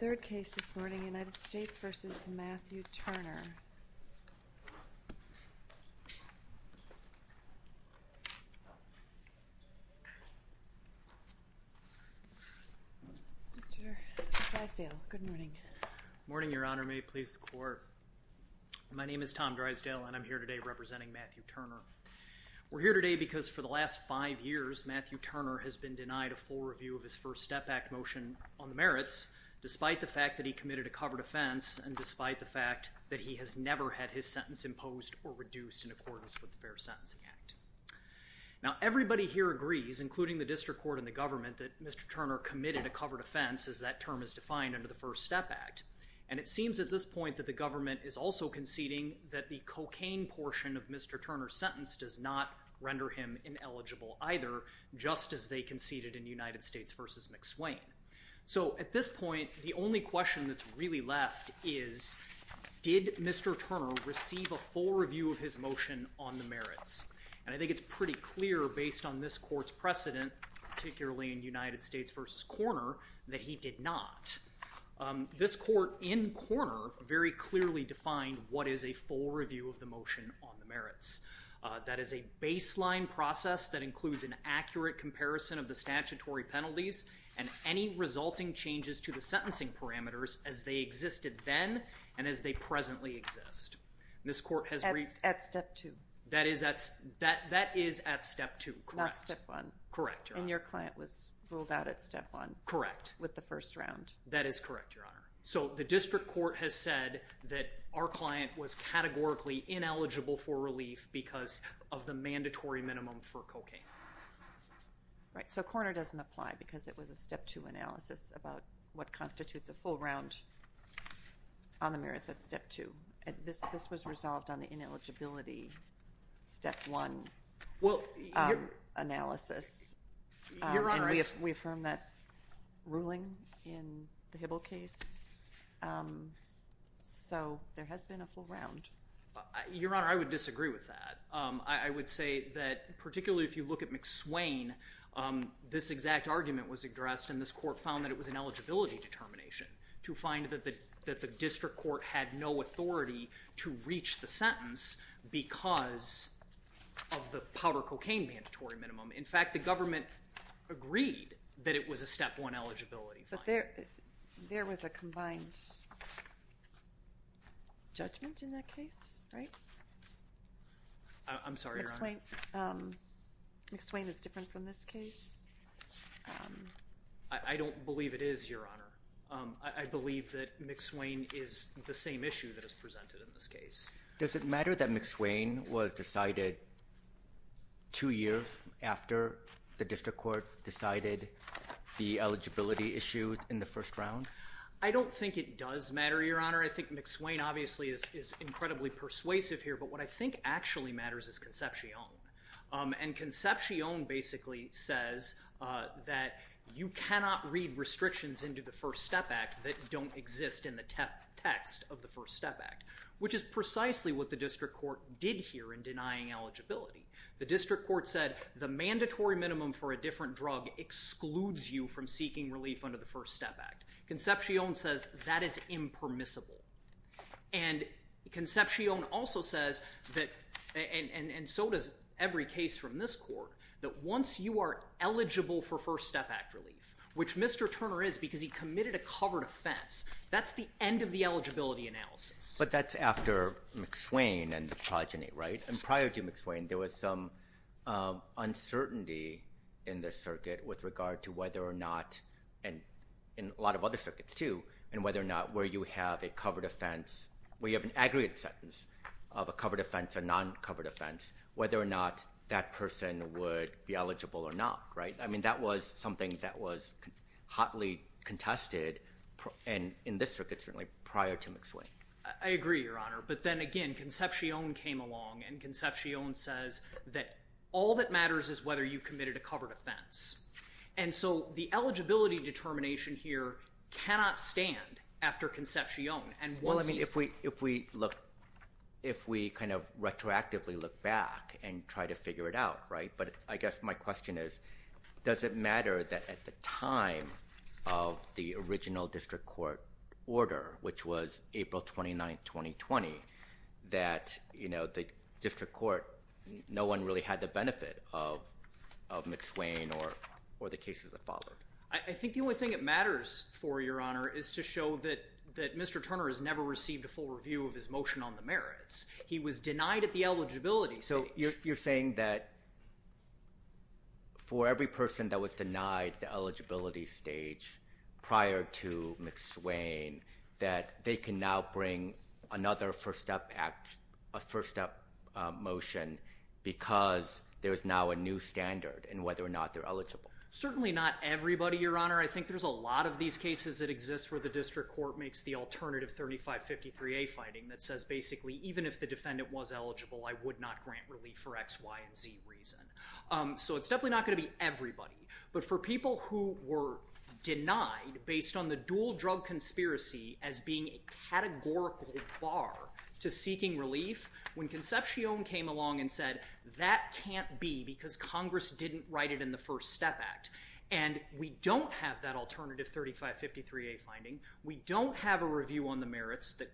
Good morning, Your Honor. May it please the Court. My name is Tom Drysdale, and I'm here today representing Matthew Turner. We're here today because for the last five years, Matthew Turner has been denied a full review of his First Step Act motion on the merits, despite the fact that he committed a covered offense, and despite the fact that he has never had his sentence imposed or reduced in accordance with the Fair Sentencing Act. Now, everybody here agrees, including the District Court and the government, that Mr. Turner committed a covered offense, as that term is defined under the First Step Act. And it seems at this point that the government is also conceding that the cocaine portion of Mr. Turner's sentence does not render him ineligible either, just as they conceded in United States v. McSwain. So at this point, the only question that's really left is, did Mr. Turner receive a full review of his motion on the merits? And I think it's pretty clear, based on this Court's precedent, particularly in United States v. Korner, that he did not. This Court in Korner very clearly defined what is a full review of the motion on the merits. That is a baseline process that includes an accurate comparison of the statutory penalties and any resulting changes to the sentencing parameters as they existed then and as they presently exist. This Court has reached... At step two. That is at step two, correct. That's step one. Correct, Your Honor. And your client was ruled out at step one. Correct. With the first round. That is correct, Your Honor. So the district court has said that our client was categorically ineligible for relief because of the mandatory minimum for cocaine. Right. So Korner doesn't apply because it was a step two analysis about what constitutes a full round on the merits at step two. This was resolved on the ineligibility step one analysis. Well, Your Honor... We affirmed that ruling in the Hibble case. So there has been a full round. Your Honor, I would disagree with that. I would say that particularly if you look at McSwain, this exact argument was addressed and this Court found that it was an eligibility determination to find that the district court had no authority to reach the sentence because of the powder cocaine mandatory minimum. In fact, the government agreed that it was a step one eligibility finding. There was a combined judgment in that case, right? I'm sorry, Your Honor. McSwain is different from this case? I don't believe it is, Your Honor. I believe that McSwain is the same issue that is presented in this case. Does it matter that McSwain was decided two years after the district court decided the eligibility issue in the first round? I don't think it does matter, Your Honor. I think McSwain obviously is incredibly persuasive here, but what I think actually matters is Concepcion. And Concepcion basically says that you cannot read restrictions into the First Step Act that don't exist in the text of the First Step Act, which is precisely what the district court did here in denying eligibility. The district court said the mandatory minimum for a different drug excludes you from seeking relief under the First Step Act. Concepcion says that is impermissible. And Concepcion also says that, and so does every case from this Court, that once you are eligible for First Step Act relief, which Mr. Turner is because he committed a covered offense, that's the end of the eligibility analysis. But that's after McSwain and the progeny, right? And prior to McSwain, there was some uncertainty in the circuit with regard to whether or not, and in a lot of other circuits too, and whether or not where you have a covered offense, where you have an aggregate sentence of a covered offense or non-covered offense, whether or not that person would be eligible or not, right? I mean, that was something that was hotly contested, and in this circuit certainly, prior to McSwain. I agree, Your Honor. But then again, Concepcion came along and Concepcion says that all that matters is whether you committed a covered offense. And so the eligibility determination here cannot stand after Concepcion. Well, I mean, if we look, if we kind of retroactively look back and try to figure it out, right? But I guess my question is, does it matter that at the time of the original district court order, which was April 29th, 2020, that the district court, no one really had the benefit of McSwain or the cases that followed? I think the only thing that matters for Your Honor is to show that Mr. Turner has never received a full review of his motion on the merits. He was denied the eligibility. So you're saying that for every person that was denied the eligibility stage prior to McSwain, that they can now bring another first step motion because there is now a new standard in whether or not they're eligible. Certainly not everybody, Your Honor. I think there's a lot of these cases that exist where the district court makes the alternative 3553A finding that says basically, even if the defendant was eligible, I would not grant relief for X, Y, and Z reason. So it's definitely not going to be everybody. But for people who were denied based on the dual drug conspiracy as being a categorical bar to seeking relief, when Concepcion came along and said, that can't be because Congress didn't write it in the First Step Act, and we don't have that alternative 3553A finding, we don't have a review on the merits that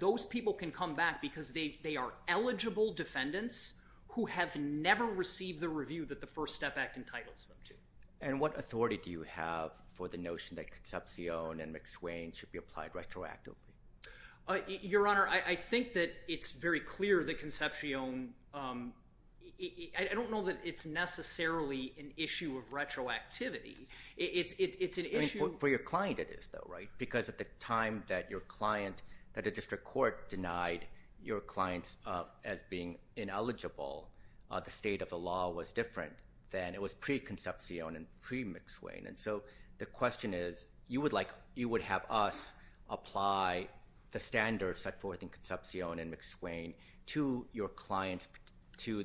those people can come back because they are eligible defendants who have never received the review that the First Step Act entitles them to. And what authority do you have for the notion that Concepcion and McSwain should be applied retroactively? Your Honor, I think that it's very clear that Concepcion... I don't know that it's necessarily an issue of retroactivity. It's an issue... If the district court denied your clients as being ineligible, the state of the law was different than it was pre-Concepcion and pre-McSwain. And so the question is, you would have us apply the standards set forth in Concepcion and McSwain to your clients to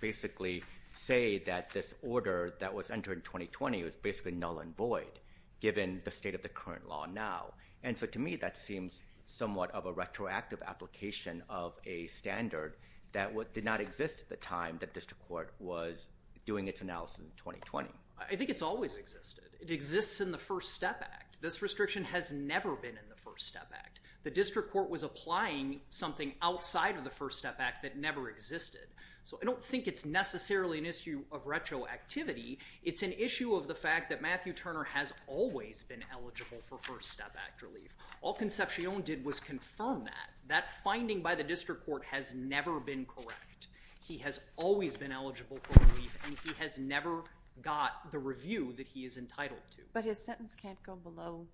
basically say that this order that was entered in 2020 was basically null and void, given the state of the current law now. And so to me, that seems somewhat of a retroactive application of a standard that did not exist at the time that district court was doing its analysis in 2020. I think it's always existed. It exists in the First Step Act. This restriction has never been in the First Step Act. The district court was applying something outside of the First Step Act that never existed. So I don't think it's necessarily an issue of retroactivity. It's an issue of the fact that Matthew Turner has always been eligible for First Step Act relief. All Concepcion did was confirm that. That finding by the district court has never been correct. He has always been eligible for relief, and he has never got the review that he is entitled to. But his sentence can't go below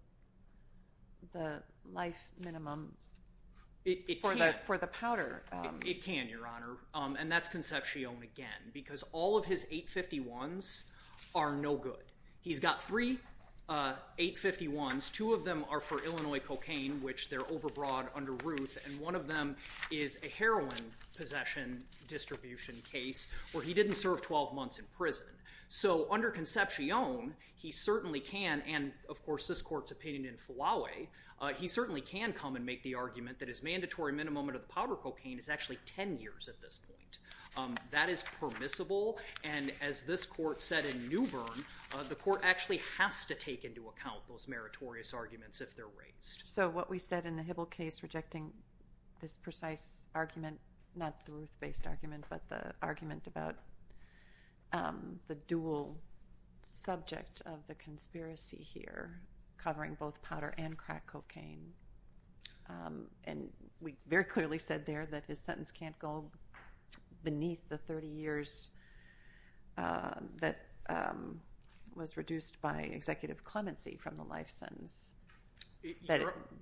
the life minimum for the powder. It can, Your Honor. And that's Concepcion again, because all of his 851s are no good. He's got three 851s. Two of them are for Illinois cocaine, which they're overbroad under Ruth, and one of them is a heroin possession distribution case where he didn't serve 12 months in prison. So under Concepcion, he certainly can, and of course, this court's opinion in Flawey, he certainly can come and make the argument that his mandatory minimum under the powder cocaine is actually 10 years at this point. That is permissible, and as this court said in Newbern, the court actually has to take into account those meritorious arguments if they're raised. So what we said in the Hibble case rejecting this precise argument, not Duluth-based argument, but the argument about the dual subject of the conspiracy here covering both powder and cocaine, can't go beneath the 30 years that was reduced by executive clemency from the life sentence.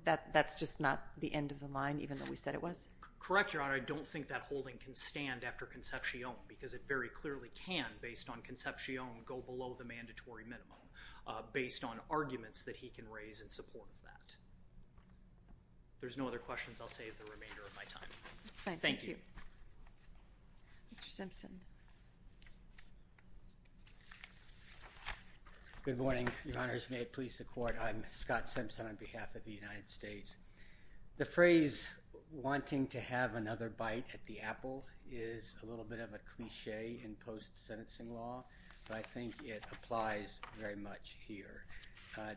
That's just not the end of the line, even though we said it was? Correct, Your Honor. I don't think that holding can stand after Concepcion, because it very clearly can, based on Concepcion, go below the mandatory minimum based on arguments that he can raise in support of that. There's no other questions. I'll save the remainder of my time. Thank you. Mr. Simpson. Good morning, Your Honors. May it please the court, I'm Scott Simpson on behalf of the United States. The phrase wanting to have another bite at the apple is a little bit of a cliche in post sentencing law, but I think it applies very much here.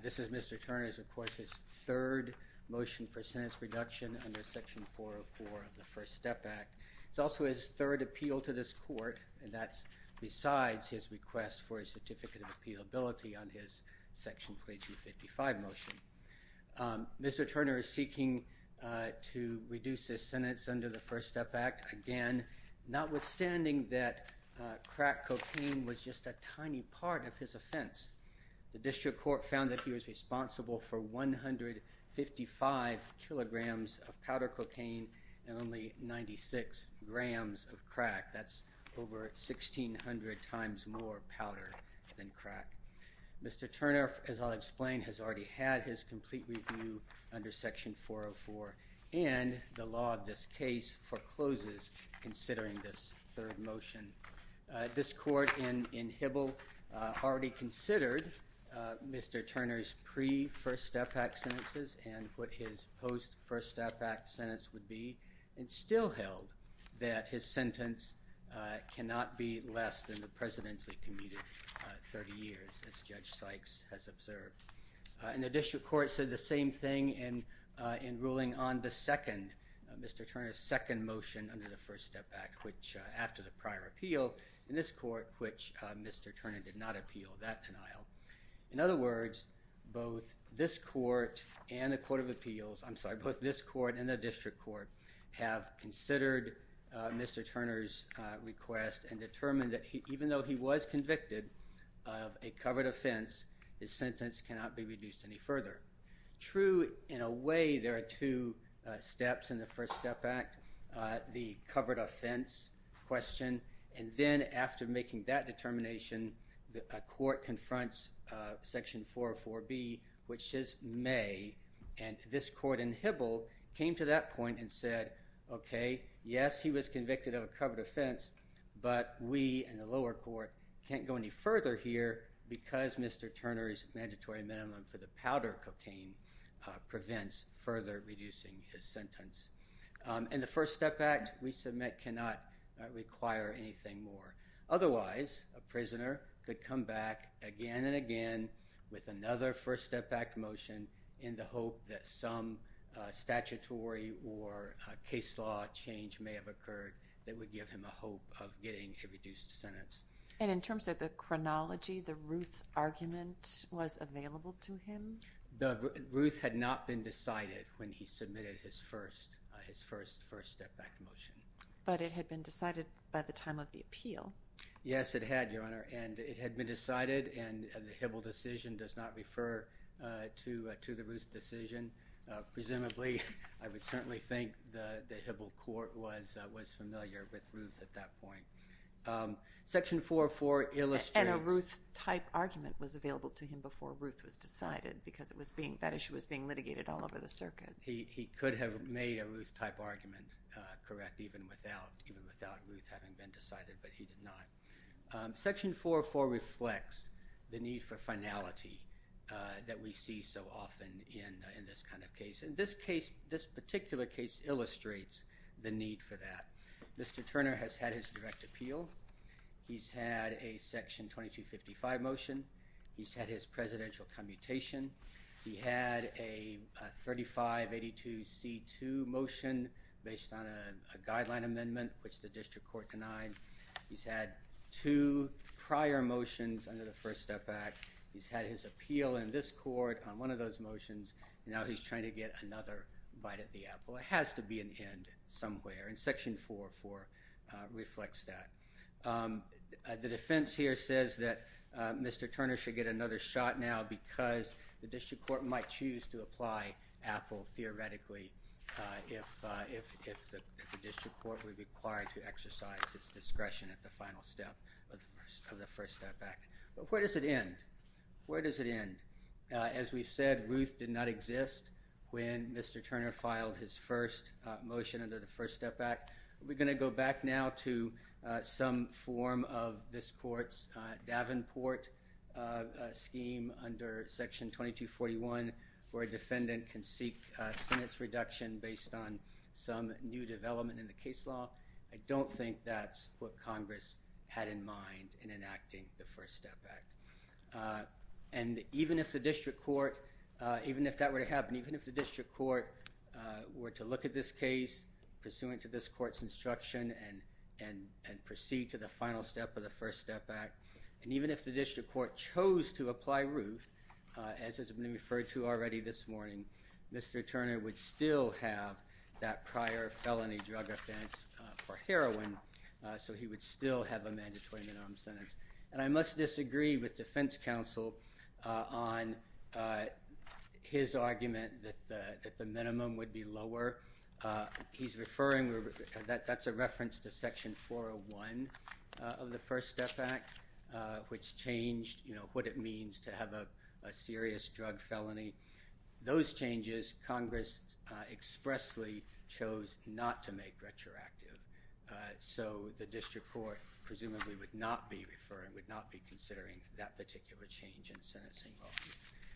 This is Mr. Turner's, of course, his third motion for sentence reduction under section 404 of the First Step Act. It's also his third appeal to this court, and that's besides his request for a certificate of appealability on his section 455 motion. Mr. Turner is seeking to reduce his sentence under the First Step Act, again, notwithstanding that crack cocaine was just a tiny part of his offense. The district court found that he was responsible for 155 kilograms of powder cocaine and only 96 grams of crack. That's over 1,600 times more powder than crack. Mr. Turner, as I'll explain, has already had his complete review under section 404, and the law of this case forecloses considering this third motion. This court in Hibble already considered Mr. Turner's pre-First Step Act sentences and what his post-First Step Act sentence would be, and still held that his sentence cannot be less than the presidentially commuted 30 years, as Judge Sykes has observed. And the district court said the same thing in ruling on the second, Mr. Turner's second motion under the First Step Act, which after the prior appeal in this court, which Mr. Turner did not appeal that denial. In other words, both this court and the court of appeals, I'm sorry, both this court and the district court have considered Mr. Turner's request and determined that even though he was convicted of a covered offense, his sentence cannot be reduced any further. True, in a way, there are two steps in the First Step Act. The covered offense question, and then after making that determination, a court confronts section 404B, which is May, and this court in Hibble came to that point and said, okay, yes, he was convicted of a covered offense, but we in the lower court can't go any further here because Mr. Turner's mandatory minimum for the powder cocaine prevents further reducing his sentence. And the First Step Act we submit cannot require anything more. Otherwise, a prisoner could come back again and again with another First Step Act motion in the hope that some statutory or case law change may have occurred that would give him a hope of getting a reduced sentence. And in terms of the chronology, the Ruth argument was available to him? The Ruth had not been decided when he submitted his first First Step Act motion. But it had been decided by the time of the appeal? Yes, it had, Your Honor, and it had been decided and the Hibble decision does not refer to the Ruth decision. Presumably, I would certainly think the Hibble court was familiar with Ruth at that point. Section 404 illustrates... A Ruth-type argument was available to him before Ruth was decided because that issue was being litigated all over the circuit. He could have made a Ruth-type argument correct even without Ruth having been decided, but he did not. Section 404 reflects the need for finality that we see so often in this kind of case. And this particular case illustrates the need for that. Mr. Turner has had his direct appeal. He's had a Section 2255 motion. He's had his presidential commutation. He had a 3582C2 motion based on a guideline amendment which the district court denied. He's had two prior motions under the First Step Act. He's had his appeal in this court on one of those motions. Now he's trying to get another bite at the apple. It has to be an end somewhere and Section 404 reflects that. The defense here says that Mr. Turner should get another shot now because the district court might choose to apply apple theoretically if the district court were required to exercise its discretion at the final step of the First Step Act. But where does it end? Where does it end? As we've said, Ruth did not exist when Mr. Turner filed his first motion under the First Step Act. We're going to go back now to some form of this court's Davenport scheme under Section 2241 where a defendant can seek a sentence reduction based on some new development in the case law. I don't think that's what Congress had in mind in enacting the First Step Act. And even if the district court, even if that were to happen, even if the district court were to look at this case pursuant to this court's instruction and proceed to the final step of the First Step Act, and even if the district court chose to apply Ruth, as has been referred to already this morning, Mr. Turner would still have that prior felony drug offense for heroin. So he would still have a mandatory minimum sentence. And I must disagree with defense counsel on his argument that the minimum would be lower. He's referring, that's a reference to Section 401 of the First Step Act, which changed what it means to have a serious drug felony. Those changes, Congress expressly chose not to make retroactive. So the district court presumably would not be referring, would not be considering that particular change in sentencing.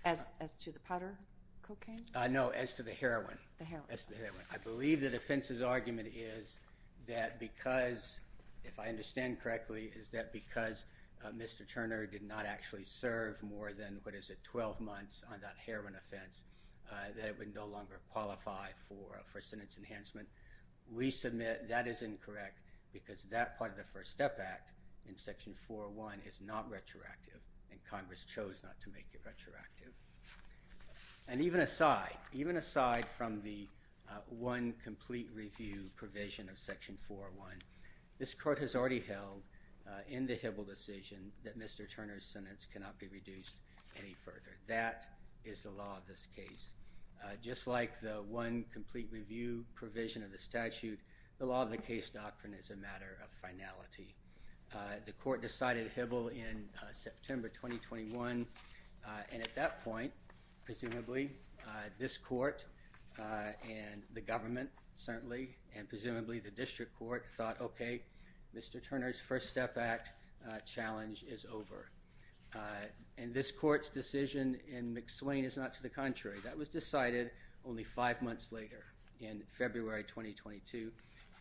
As to the powder cocaine? No, as to the heroin. I believe the defense's argument is that because, if I understand correctly, is that because Mr. Turner did not actually serve more than, what is it, 12 months on that heroin offense, that it no longer qualified for sentence enhancement. We submit that is incorrect because that part of the First Step Act in Section 401 is not retroactive, and Congress chose not to make it retroactive. And even aside, even aside from the one complete review provision of Section 401, this court has already held in the Hibble decision that Mr. Turner's sentence cannot be reduced any further. That is the law of this case. Just like the one complete review provision of the statute, the law of the case doctrine is a matter of finality. The court decided Hibble in September 2021, and at that point, presumably, this court and the government, certainly, and presumably the district court thought, okay, Mr. Turner's First is over. And this court's decision in McSwain is not to the contrary. That was decided only five months later, in February 2022,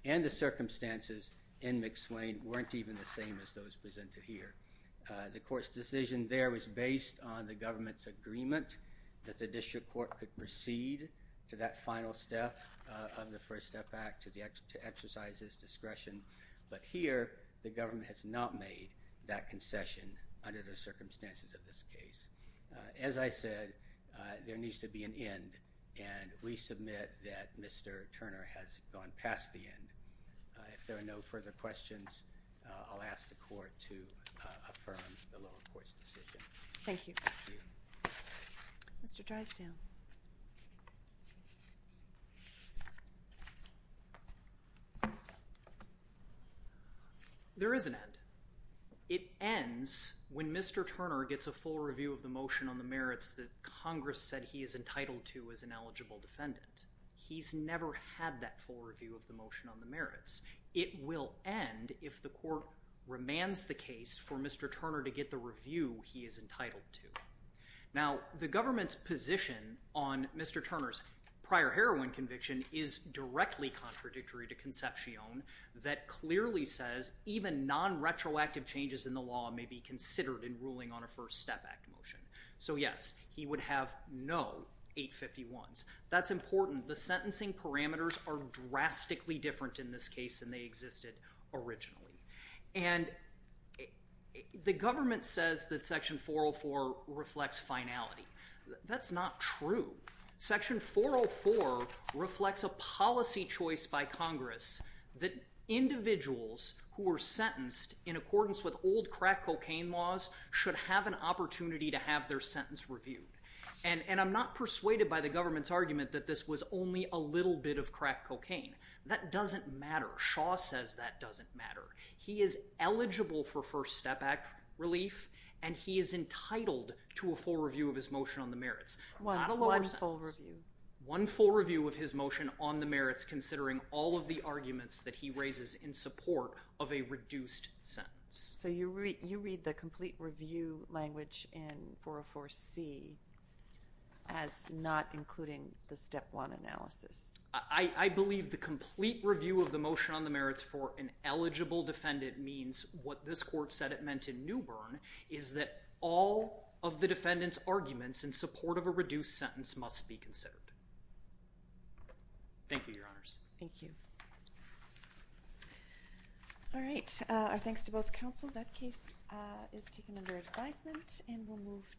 and the circumstances in McSwain weren't even the same as those presented here. The court's decision there was based on the government's agreement that the district court could proceed to that final step of the First Step Act to exercise discretion. But here, the government has not made that concession under the circumstances of this case. As I said, there needs to be an end, and we submit that Mr. Turner has gone past the end. If there are no further questions, I'll ask the court to affirm the lower court's decision. Thank you. Mr. Drysdale. There is an end. It ends when Mr. Turner gets a full review of the motion on the merits that Congress said he is entitled to as an eligible defendant. He's never had that full review of the motion on the merits. It will end if the court remands the case for Mr. Turner to get the review he is entitled to. Now, the government's position on Mr. Turner's prior heroin conviction is directly contradictory to Concepcion that clearly says even non-retroactive changes in the law may be considered in ruling on a First Step Act motion. So, yes, he would have no 851s. That's important. The sentencing parameters are drastically different in this case than they existed originally. And the government says that Section 404 reflects finality. That's not true. Section 404 reflects a policy choice by Congress that individuals who were sentenced in accordance with old crack cocaine laws should have an opportunity to have their sentence reviewed. And I'm not persuaded by the government's argument that this was only a little bit of crack cocaine. That doesn't matter. Shaw says that doesn't matter. He is eligible for First Step Act relief and he is entitled to a full review of his motion on the merits. Not a lower sentence. One full review. One full review of his motion on the merits considering all of the arguments that he raises in support of a reduced sentence. So you read the complete review language in 404C as not including the merits for an eligible defendant means what this court said it meant in Newbern is that all of the defendant's arguments in support of a reduced sentence must be considered. Thank you, Your Honors. Thank you. All right. Our thanks to both counsel. That case is taken under advisement and we'll move to